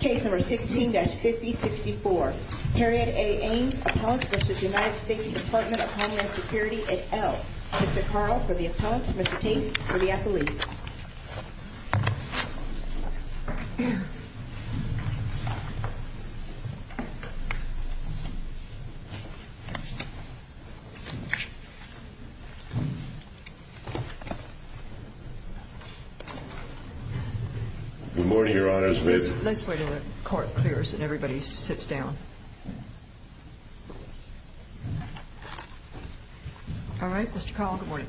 Case number 16-5064. Harriett A. Ames, Appellant v. United States Department of Homeland Security at Elk. Mr. Carl for the Appellant, Mr. Tate for the Appellees. Good morning, Your Honor. Let's wait until the court clears and everybody sits down. All right, Mr. Carl, good morning.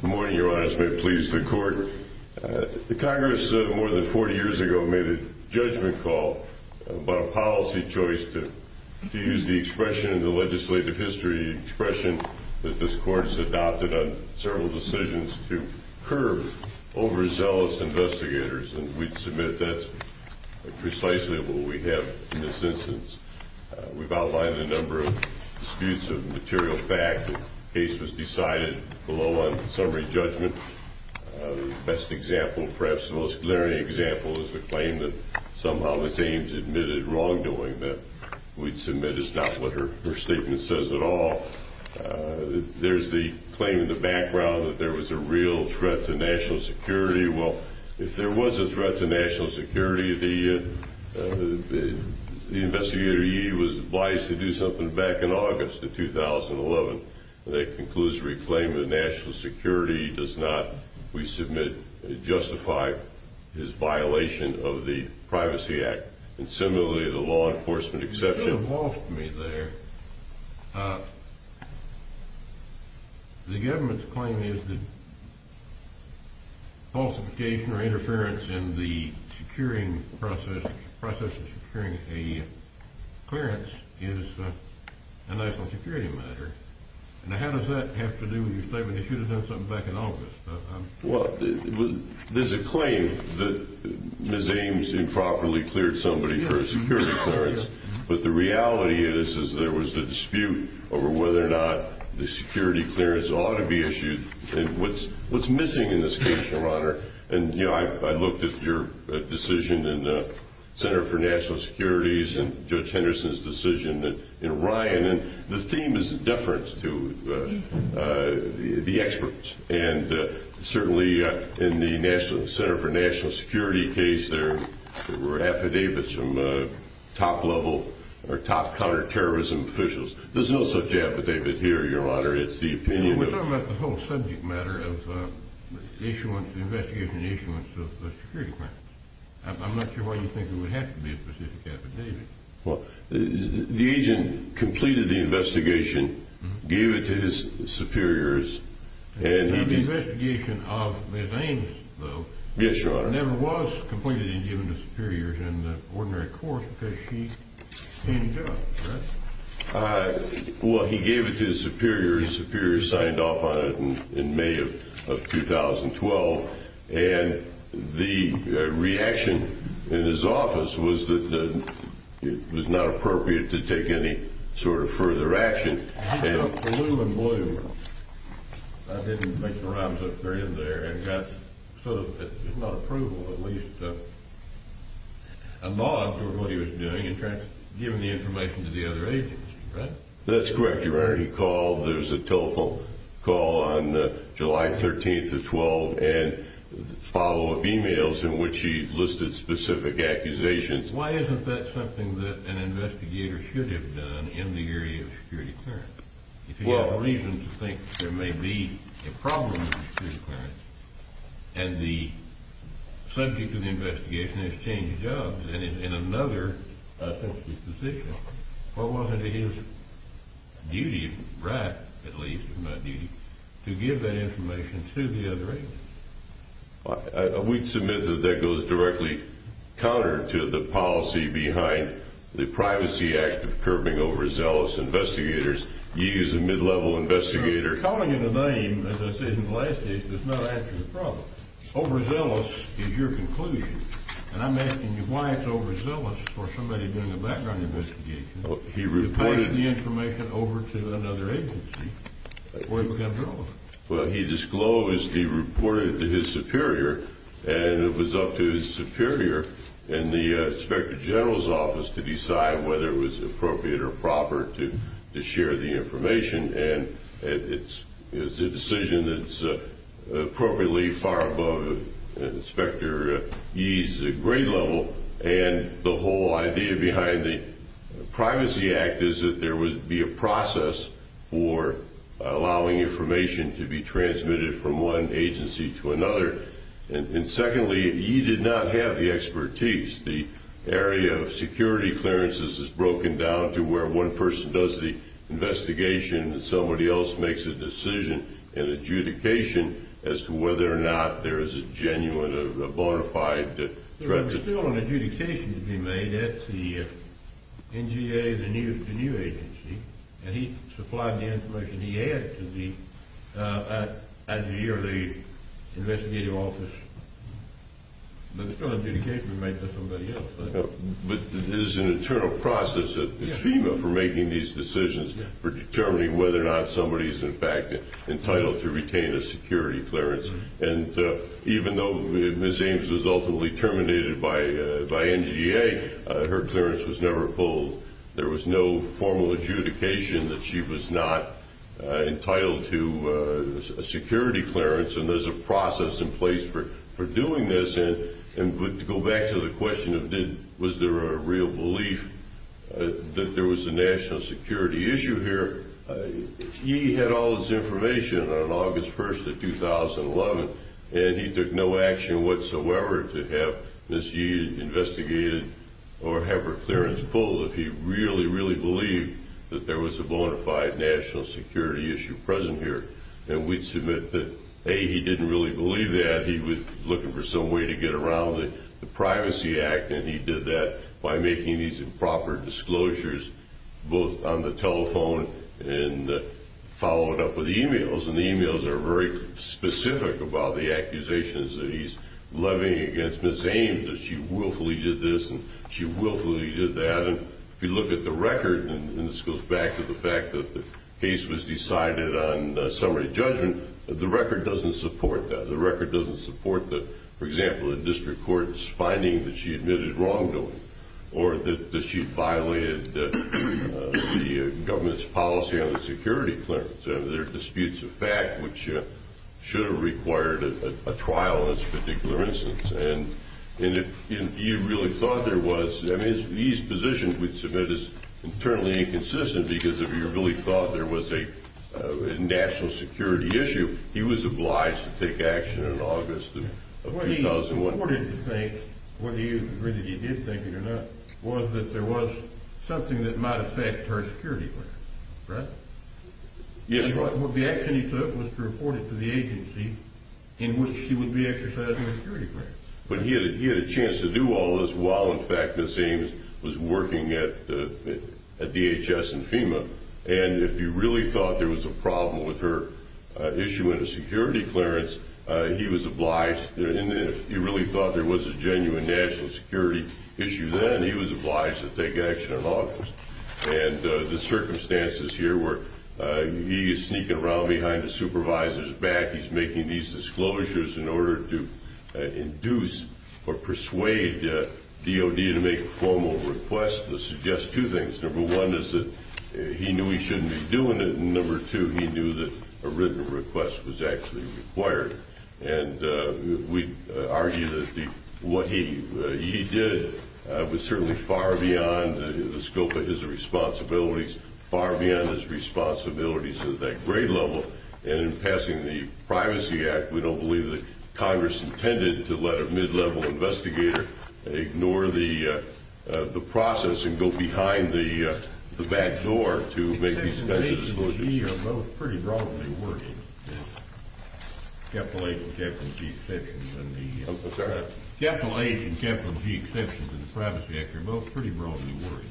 Good morning, Your Honor. This may please the court. The Congress, more than 40 years ago, made a judgment call about a policy choice to use the expression in the legislative history, the expression that this court has adopted on several decisions to curb overzealous investigators, and we submit that's precisely what we have in this instance. We've outlined a number of disputes of material fact. The case was decided below on summary judgment. The best example, perhaps the most glaring example, is the claim that somehow Ms. Ames admitted wrongdoing, that we'd submit it's not what her statement says at all. There's the claim in the background that there was a real threat to national security. Well, if there was a threat to national security, the investigator, he was advised to do something back in August of 2011. That concludes the reclaim of national security. He does not, we submit, justify his violation of the Privacy Act and similarly the law enforcement exception. You could have lost me there. The government's claim is that falsification or interference in the process of securing a clearance is a national security matter. Now, how does that have to do with your statement that you should have done something back in August? Well, there's a claim that Ms. Ames improperly cleared somebody for a security clearance, but the reality is that there was a dispute over whether or not the security clearance ought to be issued and what's missing in this case, Your Honor. And, you know, I looked at your decision in the Center for National Securities and Judge Henderson's decision in Ryan, and the theme is deference to the experts, and certainly in the National Center for National Security case, there were affidavits from top level or top counterterrorism officials. There's no such affidavit here, Your Honor. It's the opinion of the- We're talking about the whole subject matter of the investigation issuance of the security clearance. I'm not sure why you think there would have to be a specific affidavit. Well, the agent completed the investigation, gave it to his superiors, and- He did the investigation of Ms. Ames, though. Yes, Your Honor. It never was completed and given to superiors in the ordinary court because she handed it up, correct? Well, he gave it to his superiors. His superiors signed off on it in May of 2012, and the reaction in his office was that it was not appropriate to take any sort of further action. It went blue and blue. I didn't make the rounds up there and there, and got sort of, if not approval, at least a nod for what he was doing in terms of giving the information to the other agents, right? That's correct, Your Honor. He called, there was a telephone call on July 13th of 12, and follow-up emails in which he listed specific accusations. Why isn't that something that an investigator should have done in the area of security clearance? Well- If he had a reason to think there may be a problem with security clearance, and the subject of the investigation has changed jobs, and is in another sensitive position, what was it his duty, right at least, not duty, to give that information to the other agents? We'd submit that that goes directly counter to the policy behind the Privacy Act of curbing overzealous investigators. He is a mid-level investigator. You're calling it a name, as I said in the last case, that's not actually a problem. Overzealous is your conclusion, and I'm asking you why it's overzealous for somebody doing a background investigation- He reported- To pass the information over to another agency, or he becomes irrelevant. Well, he disclosed he reported it to his superior, and it was up to his superior in the Inspector General's office to decide whether it was appropriate or proper to share the information, and it's a decision that's appropriately far above Inspector Yee's grade level, and the whole idea behind the Privacy Act is that there would be a process for allowing information to be transmitted from one agency to another. And secondly, Yee did not have the expertise. The area of security clearances is broken down to where one person does the investigation and somebody else makes a decision in adjudication as to whether or not there is a genuine, a bona fide threat to- There was still an adjudication to be made at the NGA, the new agency, and he supplied the information he had to the- at Yee or the investigative office. But there's still an adjudication to be made by somebody else. But there's an internal process at FEMA for making these decisions, for determining whether or not somebody's in fact entitled to retain a security clearance, and even though Ms. Ames was ultimately terminated by NGA, her clearance was never pulled. There was no formal adjudication that she was not entitled to a security clearance, and there's a process in place for doing this. And to go back to the question of was there a real belief that there was a national security issue here, Yee had all this information on August 1st of 2011, and he took no action whatsoever to have Ms. Yee investigated or have her clearance pulled if he really, really believed that there was a bona fide national security issue present here. And we'd submit that, A, he didn't really believe that. He was looking for some way to get around the Privacy Act, and he did that by making these improper disclosures both on the telephone and following up with emails. And the emails are very specific about the accusations that he's levying against Ms. Ames, that she willfully did this and she willfully did that. And if you look at the record, and this goes back to the fact that the case was decided on summary judgment, the record doesn't support that. The record doesn't support that, for example, the district court's finding that she admitted wrongdoing or that she violated the government's policy on the security clearance. There are disputes of fact which should have required a trial in this particular instance. And if Yee really thought there was, I mean, Yee's position we'd submit is internally inconsistent because if he really thought there was a national security issue, he was obliged to take action in August of 2011. What he wanted to think, whether you agree that he did think it or not, was that there was something that might affect her security clearance, right? Yes, Your Honor. And what the action he took was to report it to the agency in which she would be exercising her security clearance. But he had a chance to do all this while, in fact, Ms. Ames was working at DHS in FEMA. And if Yee really thought there was a problem with her issue in a security clearance, he was obliged. If Yee really thought there was a genuine national security issue then, he was obliged to take action in August. And the circumstances here were Yee sneaking around behind the supervisor's back. He's making these disclosures in order to induce or persuade DOD to make a formal request. This suggests two things. Number one is that he knew he shouldn't be doing it. And number two, he knew that a written request was actually required. And we argue that what Yee did was certainly far beyond the scope of his responsibilities, far beyond his responsibilities at that grade level. And in passing the Privacy Act, we don't believe that Congress intended to let a mid-level investigator ignore the process and go behind the back door to make these kinds of disclosures. You and Yee are both pretty broadly working at Capital H and Capital G Exceptions. Capital H and Capital G Exceptions and the Privacy Act are both pretty broadly working.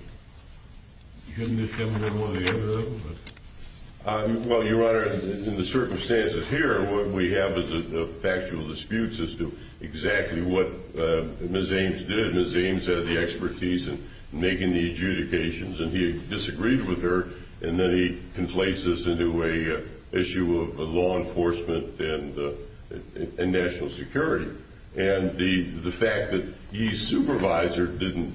Shouldn't this have been one of the other of them? Well, Your Honor, in the circumstances here, what we have is factual disputes as to exactly what Ms. Ames did. Ms. Ames had the expertise in making the adjudications, and he disagreed with her, and then he conflates this into an issue of law enforcement and national security. And the fact that Yee's supervisor didn't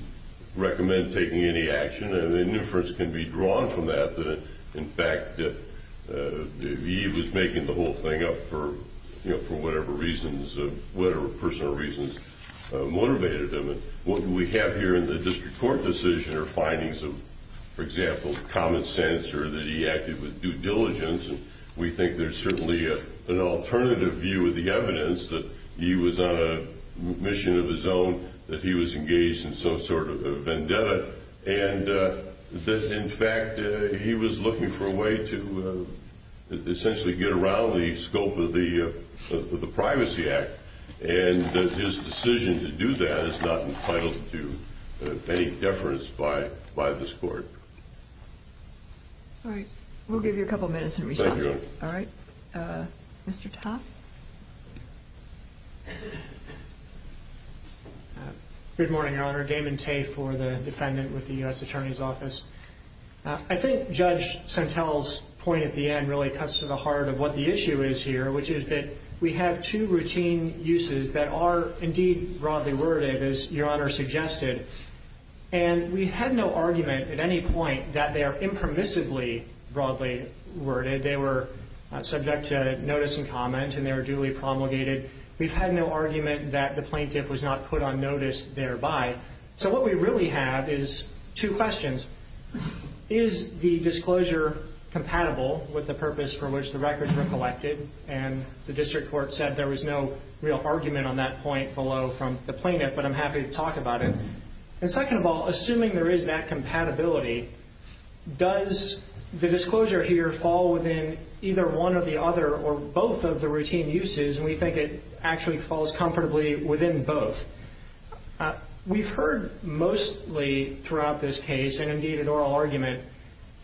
recommend taking any action, and the inference can be drawn from that, that, in fact, Yee was making the whole thing up for whatever personal reasons motivated him. What we have here in the district court decision are findings of, for example, common sense or that he acted with due diligence. And we think there's certainly an alternative view of the evidence that Yee was on a mission of his own, that he was engaged in some sort of vendetta, and that, in fact, he was looking for a way to essentially get around the scope of the Privacy Act. And his decision to do that is not entitled to any deference by this court. All right. We'll give you a couple minutes and respond. Thank you, Your Honor. All right. Mr. Topp? Good morning, Your Honor. Damon Tate for the defendant with the U.S. Attorney's Office. I think Judge Sentelle's point at the end really cuts to the heart of what the issue is here, which is that we have two routine uses that are indeed broadly worded, as Your Honor suggested. And we had no argument at any point that they are impermissibly broadly worded. They were subject to notice and comment, and they were duly promulgated. We've had no argument that the plaintiff was not put on notice thereby. So what we really have is two questions. Is the disclosure compatible with the purpose for which the records were collected? And the district court said there was no real argument on that point below from the plaintiff, but I'm happy to talk about it. And second of all, assuming there is that compatibility, does the disclosure here fall within either one or the other or both of the routine uses? And we think it actually falls comfortably within both. We've heard mostly throughout this case, and indeed in oral argument,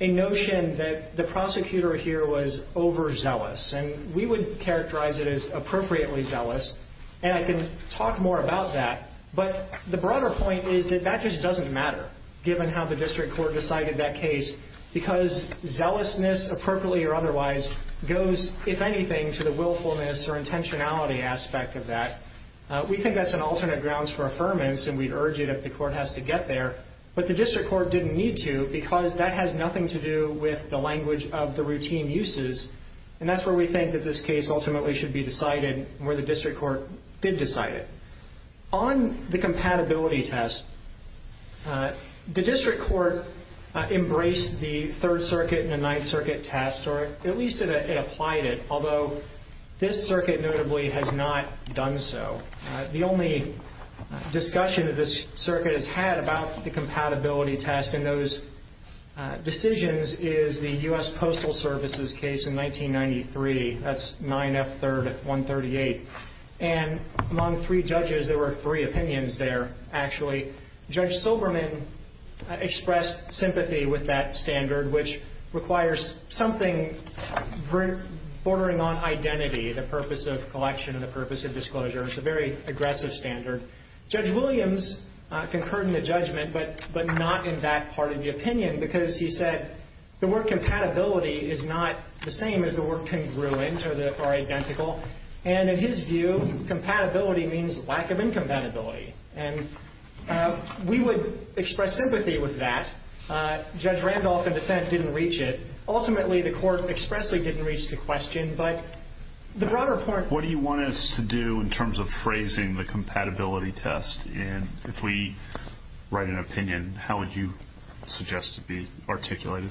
a notion that the prosecutor here was overzealous. And we would characterize it as appropriately zealous, and I can talk more about that. But the broader point is that that just doesn't matter, given how the district court decided that case, because zealousness, appropriately or otherwise, goes, if anything, to the willfulness or intentionality aspect of that. We think that's an alternate grounds for affirmance, and we'd urge it if the court has to get there. But the district court didn't need to, because that has nothing to do with the language of the routine uses. And that's where we think that this case ultimately should be decided, where the district court did decide it. On the compatibility test, the district court embraced the Third Circuit and the Ninth Circuit test, or at least it applied it, although this circuit notably has not done so. The only discussion that this circuit has had about the compatibility test and those decisions is the U.S. Postal Service's case in 1993. That's 9F3rd at 138. And among three judges, there were three opinions there, actually. Judge Silberman expressed sympathy with that standard, which requires something bordering on identity, the purpose of collection and the purpose of disclosure. It's a very aggressive standard. Judge Williams concurred in the judgment, but not in that part of the opinion, because he said the word compatibility is not the same as the word congruent or identical. And in his view, compatibility means lack of incompatibility. And we would express sympathy with that. Judge Randolph, in dissent, didn't reach it. Ultimately, the court expressly didn't reach the question. But the broader point of view is that it's not the same. What do you want us to do in terms of phrasing the compatibility test? And if we write an opinion, how would you suggest it be articulated?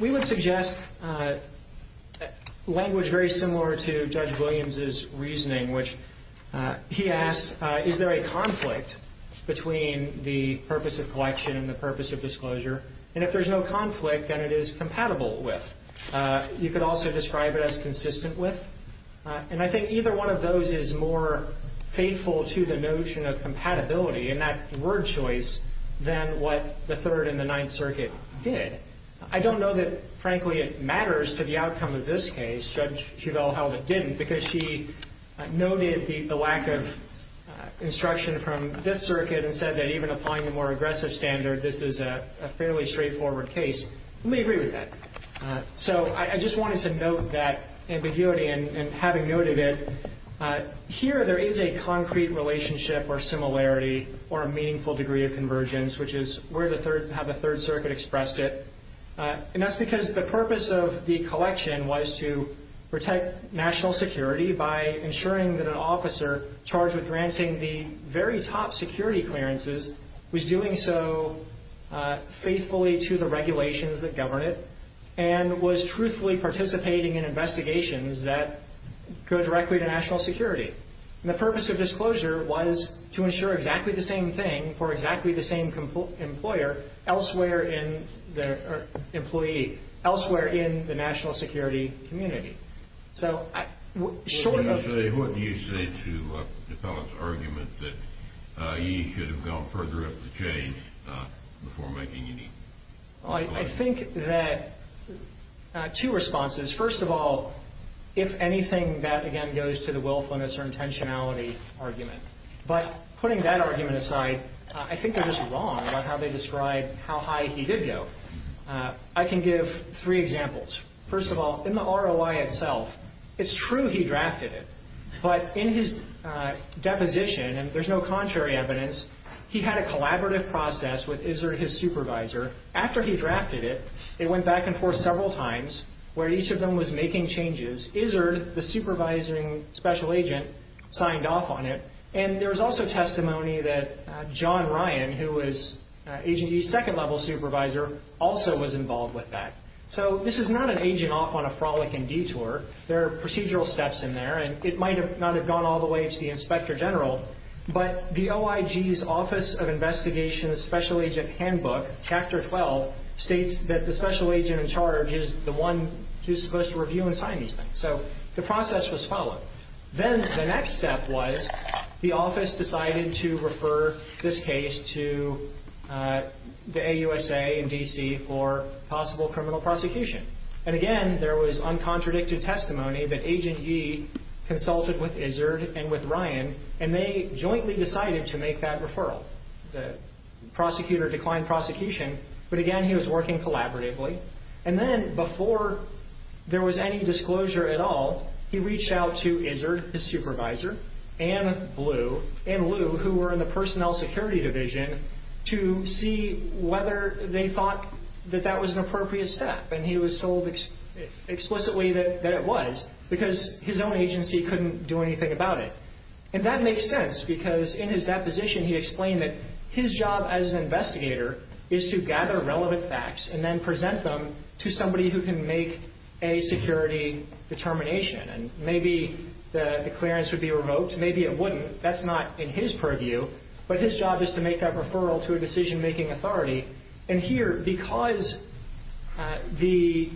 We would suggest language very similar to Judge Williams's reasoning, which he asked, is there a conflict between the purpose of collection and the purpose of disclosure? And if there's no conflict, then it is compatible with. You could also describe it as consistent with. And I think either one of those is more faithful to the notion of compatibility in that word choice than what the Third and the Ninth Circuit did. I don't know that, frankly, it matters to the outcome of this case. Judge Chevelle held it didn't because she noted the lack of instruction from this circuit and said that even applying the more aggressive standard, this is a fairly straightforward case. Let me agree with that. So I just wanted to note that ambiguity. And having noted it, here there is a concrete relationship or similarity or a meaningful degree of convergence, which is how the Third Circuit expressed it. And that's because the purpose of the collection was to protect national security by ensuring that an officer charged with granting the very top security clearances was doing so faithfully to the regulations that govern it and was truthfully participating in investigations that go directly to national security. And the purpose of disclosure was to ensure exactly the same thing for exactly the same employer elsewhere in the national security community. So short of... What do you say to DePellett's argument that he should have gone further up the chain before making any... I think that two responses. First of all, if anything, that again goes to the willfulness or intentionality argument. But putting that argument aside, I think they're just wrong about how they describe how high he did go. I can give three examples. First of all, in the ROI itself, it's true he drafted it. But in his deposition, and there's no contrary evidence, he had a collaborative process with his supervisor. After he drafted it, it went back and forth several times where each of them was making changes. Izzard, the supervising special agent, signed off on it. And there was also testimony that John Ryan, who was Agent E's second-level supervisor, also was involved with that. So this is not an agent off on a frolic and detour. There are procedural steps in there, and it might not have gone all the way to the inspector general. But the OIG's Office of Investigation's Special Agent Handbook, Chapter 12, states that the special agent in charge is the one who's supposed to review and sign these things. So the process was followed. Then the next step was the office decided to refer this case to the AUSA and D.C. for possible criminal prosecution. And again, there was uncontradicted testimony that Agent E consulted with Izzard and with Ryan, and they jointly decided to make that referral. The prosecutor declined prosecution, but again, he was working collaboratively. And then before there was any disclosure at all, he reached out to Izzard, his supervisor, and Blue, and Lou, who were in the Personnel Security Division, to see whether they thought that that was an appropriate step. And he was told explicitly that it was because his own agency couldn't do anything about it. And that makes sense because in his deposition he explained that his job as an investigator is to gather relevant facts and then present them to somebody who can make a security determination. And maybe the clearance would be revoked. Maybe it wouldn't. That's not in his purview. But his job is to make that referral to a decision-making authority. And here, because the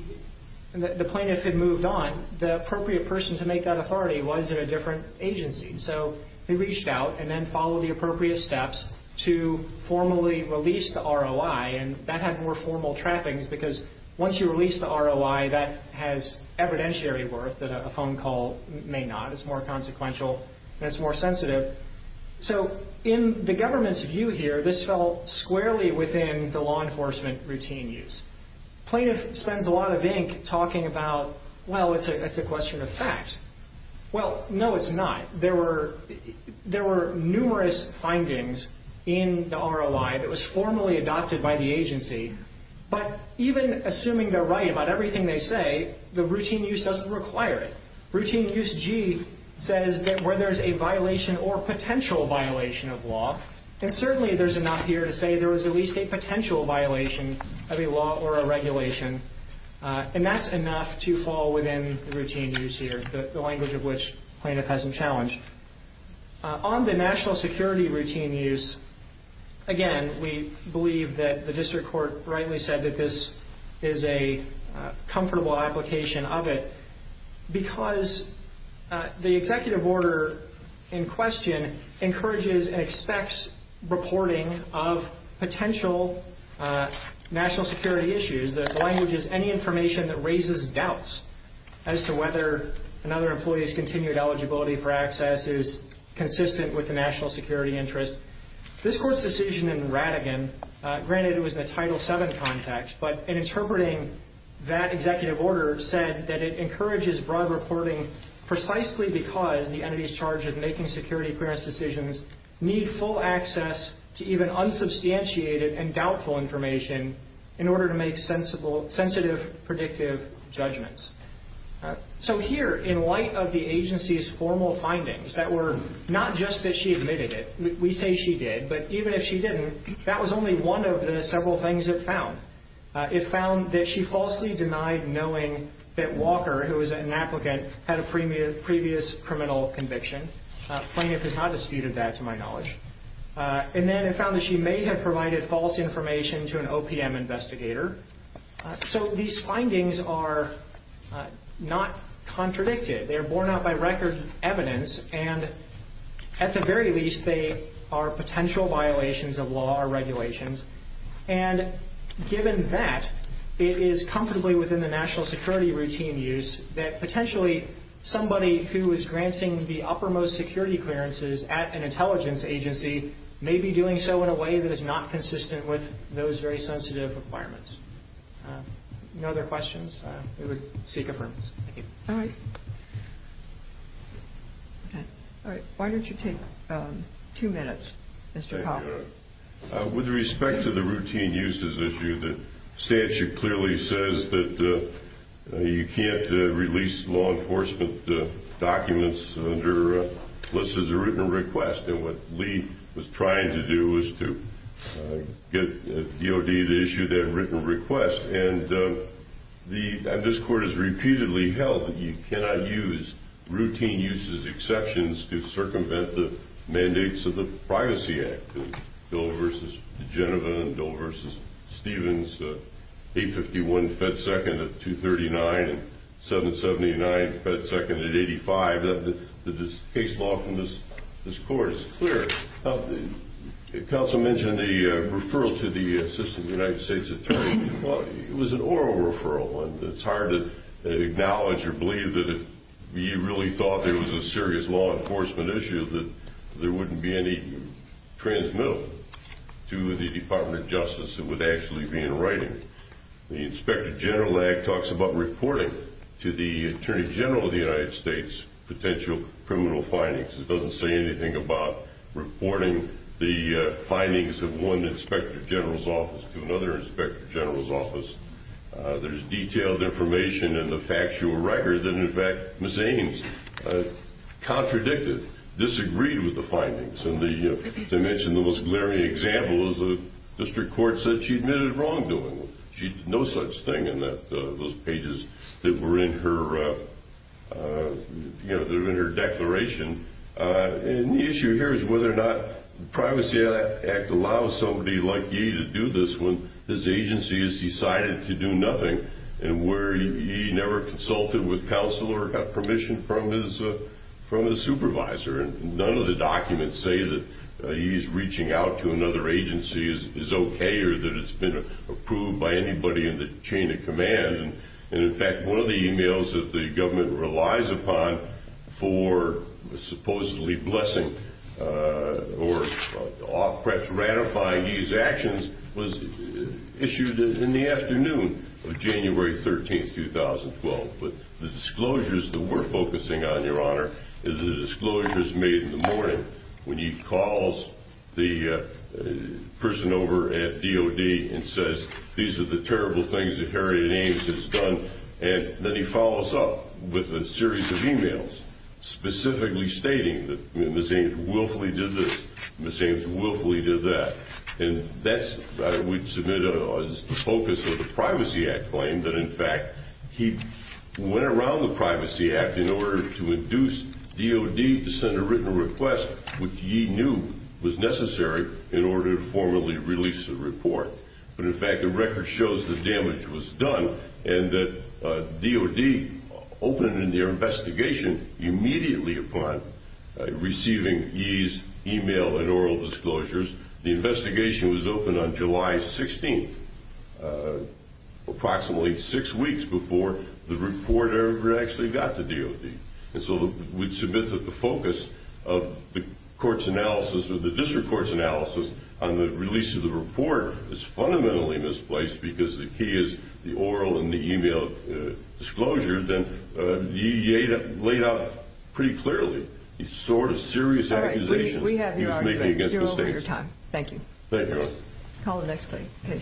plaintiff had moved on, the appropriate person to make that authority was at a different agency. So he reached out and then followed the appropriate steps to formally release the ROI, and that had more formal trappings because once you release the ROI, that has evidentiary worth that a phone call may not. It's more consequential and it's more sensitive. So in the government's view here, this fell squarely within the law enforcement routine use. Plaintiff spends a lot of ink talking about, well, it's a question of fact. Well, no, it's not. There were numerous findings in the ROI that was formally adopted by the agency. But even assuming they're right about everything they say, the routine use doesn't require it. Routine use G says that where there's a violation or potential violation of law, and certainly there's enough here to say there was at least a potential violation of a law or a regulation, and that's enough to fall within the routine use here, the language of which the plaintiff has challenged. On the national security routine use, again, we believe that the district court rightly said that this is a comfortable application of it because the executive order in question encourages and expects reporting of potential national security issues. The language is any information that raises doubts as to whether another employee's continued eligibility for access is consistent with the national security interest. This court's decision in Rattigan, granted it was in a Title VII context, but in interpreting that executive order said that it encourages broad reporting precisely because the entities charged with making security clearance decisions need full access to even unsubstantiated and doubtful information in order to make sensitive, predictive judgments. So here, in light of the agency's formal findings that were not just that she admitted it, we say she did, but even if she didn't, that was only one of the several things it found. It found that she falsely denied knowing that Walker, who was an applicant, had a previous criminal conviction. The plaintiff has not disputed that, to my knowledge. And then it found that she may have provided false information to an OPM investigator. So these findings are not contradicted. They are borne out by record evidence, and at the very least, they are potential violations of law or regulations. And given that, it is comfortably within the national security routine use that, potentially, somebody who is granting the uppermost security clearances at an intelligence agency may be doing so in a way that is not consistent with those very sensitive requirements. If there are no other questions, we would seek affirmation. Thank you. All right. Why don't you take two minutes, Mr. Powell? With respect to the routine uses issue, the statute clearly says that you can't release law enforcement documents unless there's a written request. And what Lee was trying to do was to get DOD to issue that written request. And this Court has repeatedly held that you cannot use routine uses exceptions to circumvent the mandates of the Privacy Act. And Dill v. Genova and Dill v. Stevens, 851 fed 2nd at 239 and 779 fed 2nd at 85, that this case law from this Court is clear. Counsel mentioned the referral to the Assistant United States Attorney. Well, it was an oral referral. And it's hard to acknowledge or believe that if you really thought there was a serious law enforcement issue, that there wouldn't be any transmittal to the Department of Justice. It would actually be in writing. The Inspector General Act talks about reporting to the Attorney General of the United States potential criminal findings. It doesn't say anything about reporting the findings of one Inspector General's office to another Inspector General's office. There's detailed information in the factual record that, in fact, Ms. Ames contradicted. Disagreed with the findings. As I mentioned, the most glaring example is the District Court said she admitted wrongdoing. She did no such thing in those pages that were in her declaration. And the issue here is whether or not the Privacy Act allows somebody like Ye to do this when his agency has decided to do nothing and where Ye never consulted with counsel or got permission from his supervisor. And none of the documents say that Ye's reaching out to another agency is okay or that it's been approved by anybody in the chain of command. And, in fact, one of the emails that the government relies upon for supposedly blessing or perhaps ratifying Ye's actions was issued in the afternoon of January 13, 2012. But the disclosures that we're focusing on, Your Honor, is the disclosures made in the morning when Ye calls the person over at DOD and says, These are the terrible things that Harriet Ames has done. And then he follows up with a series of emails specifically stating that Ms. Ames willfully did this. Ms. Ames willfully did that. And that, I would submit, is the focus of the Privacy Act claim, that, in fact, he went around the Privacy Act in order to induce DOD to send a written request, which Ye knew was necessary in order to formally release the report. But, in fact, the record shows that damage was done and that DOD opened an investigation immediately upon receiving Ye's email and oral disclosures. The investigation was opened on July 16, approximately six weeks before the report ever actually got to DOD. And so we'd submit that the focus of the court's analysis or the district court's analysis on the release of the report is fundamentally misplaced because the key is the oral and the email disclosures that Ye laid out pretty clearly, the sort of serious accusations he was making against the state. All right. We have your argument. You're over your time. Thank you. Thank you, Your Honor. Call the next plea.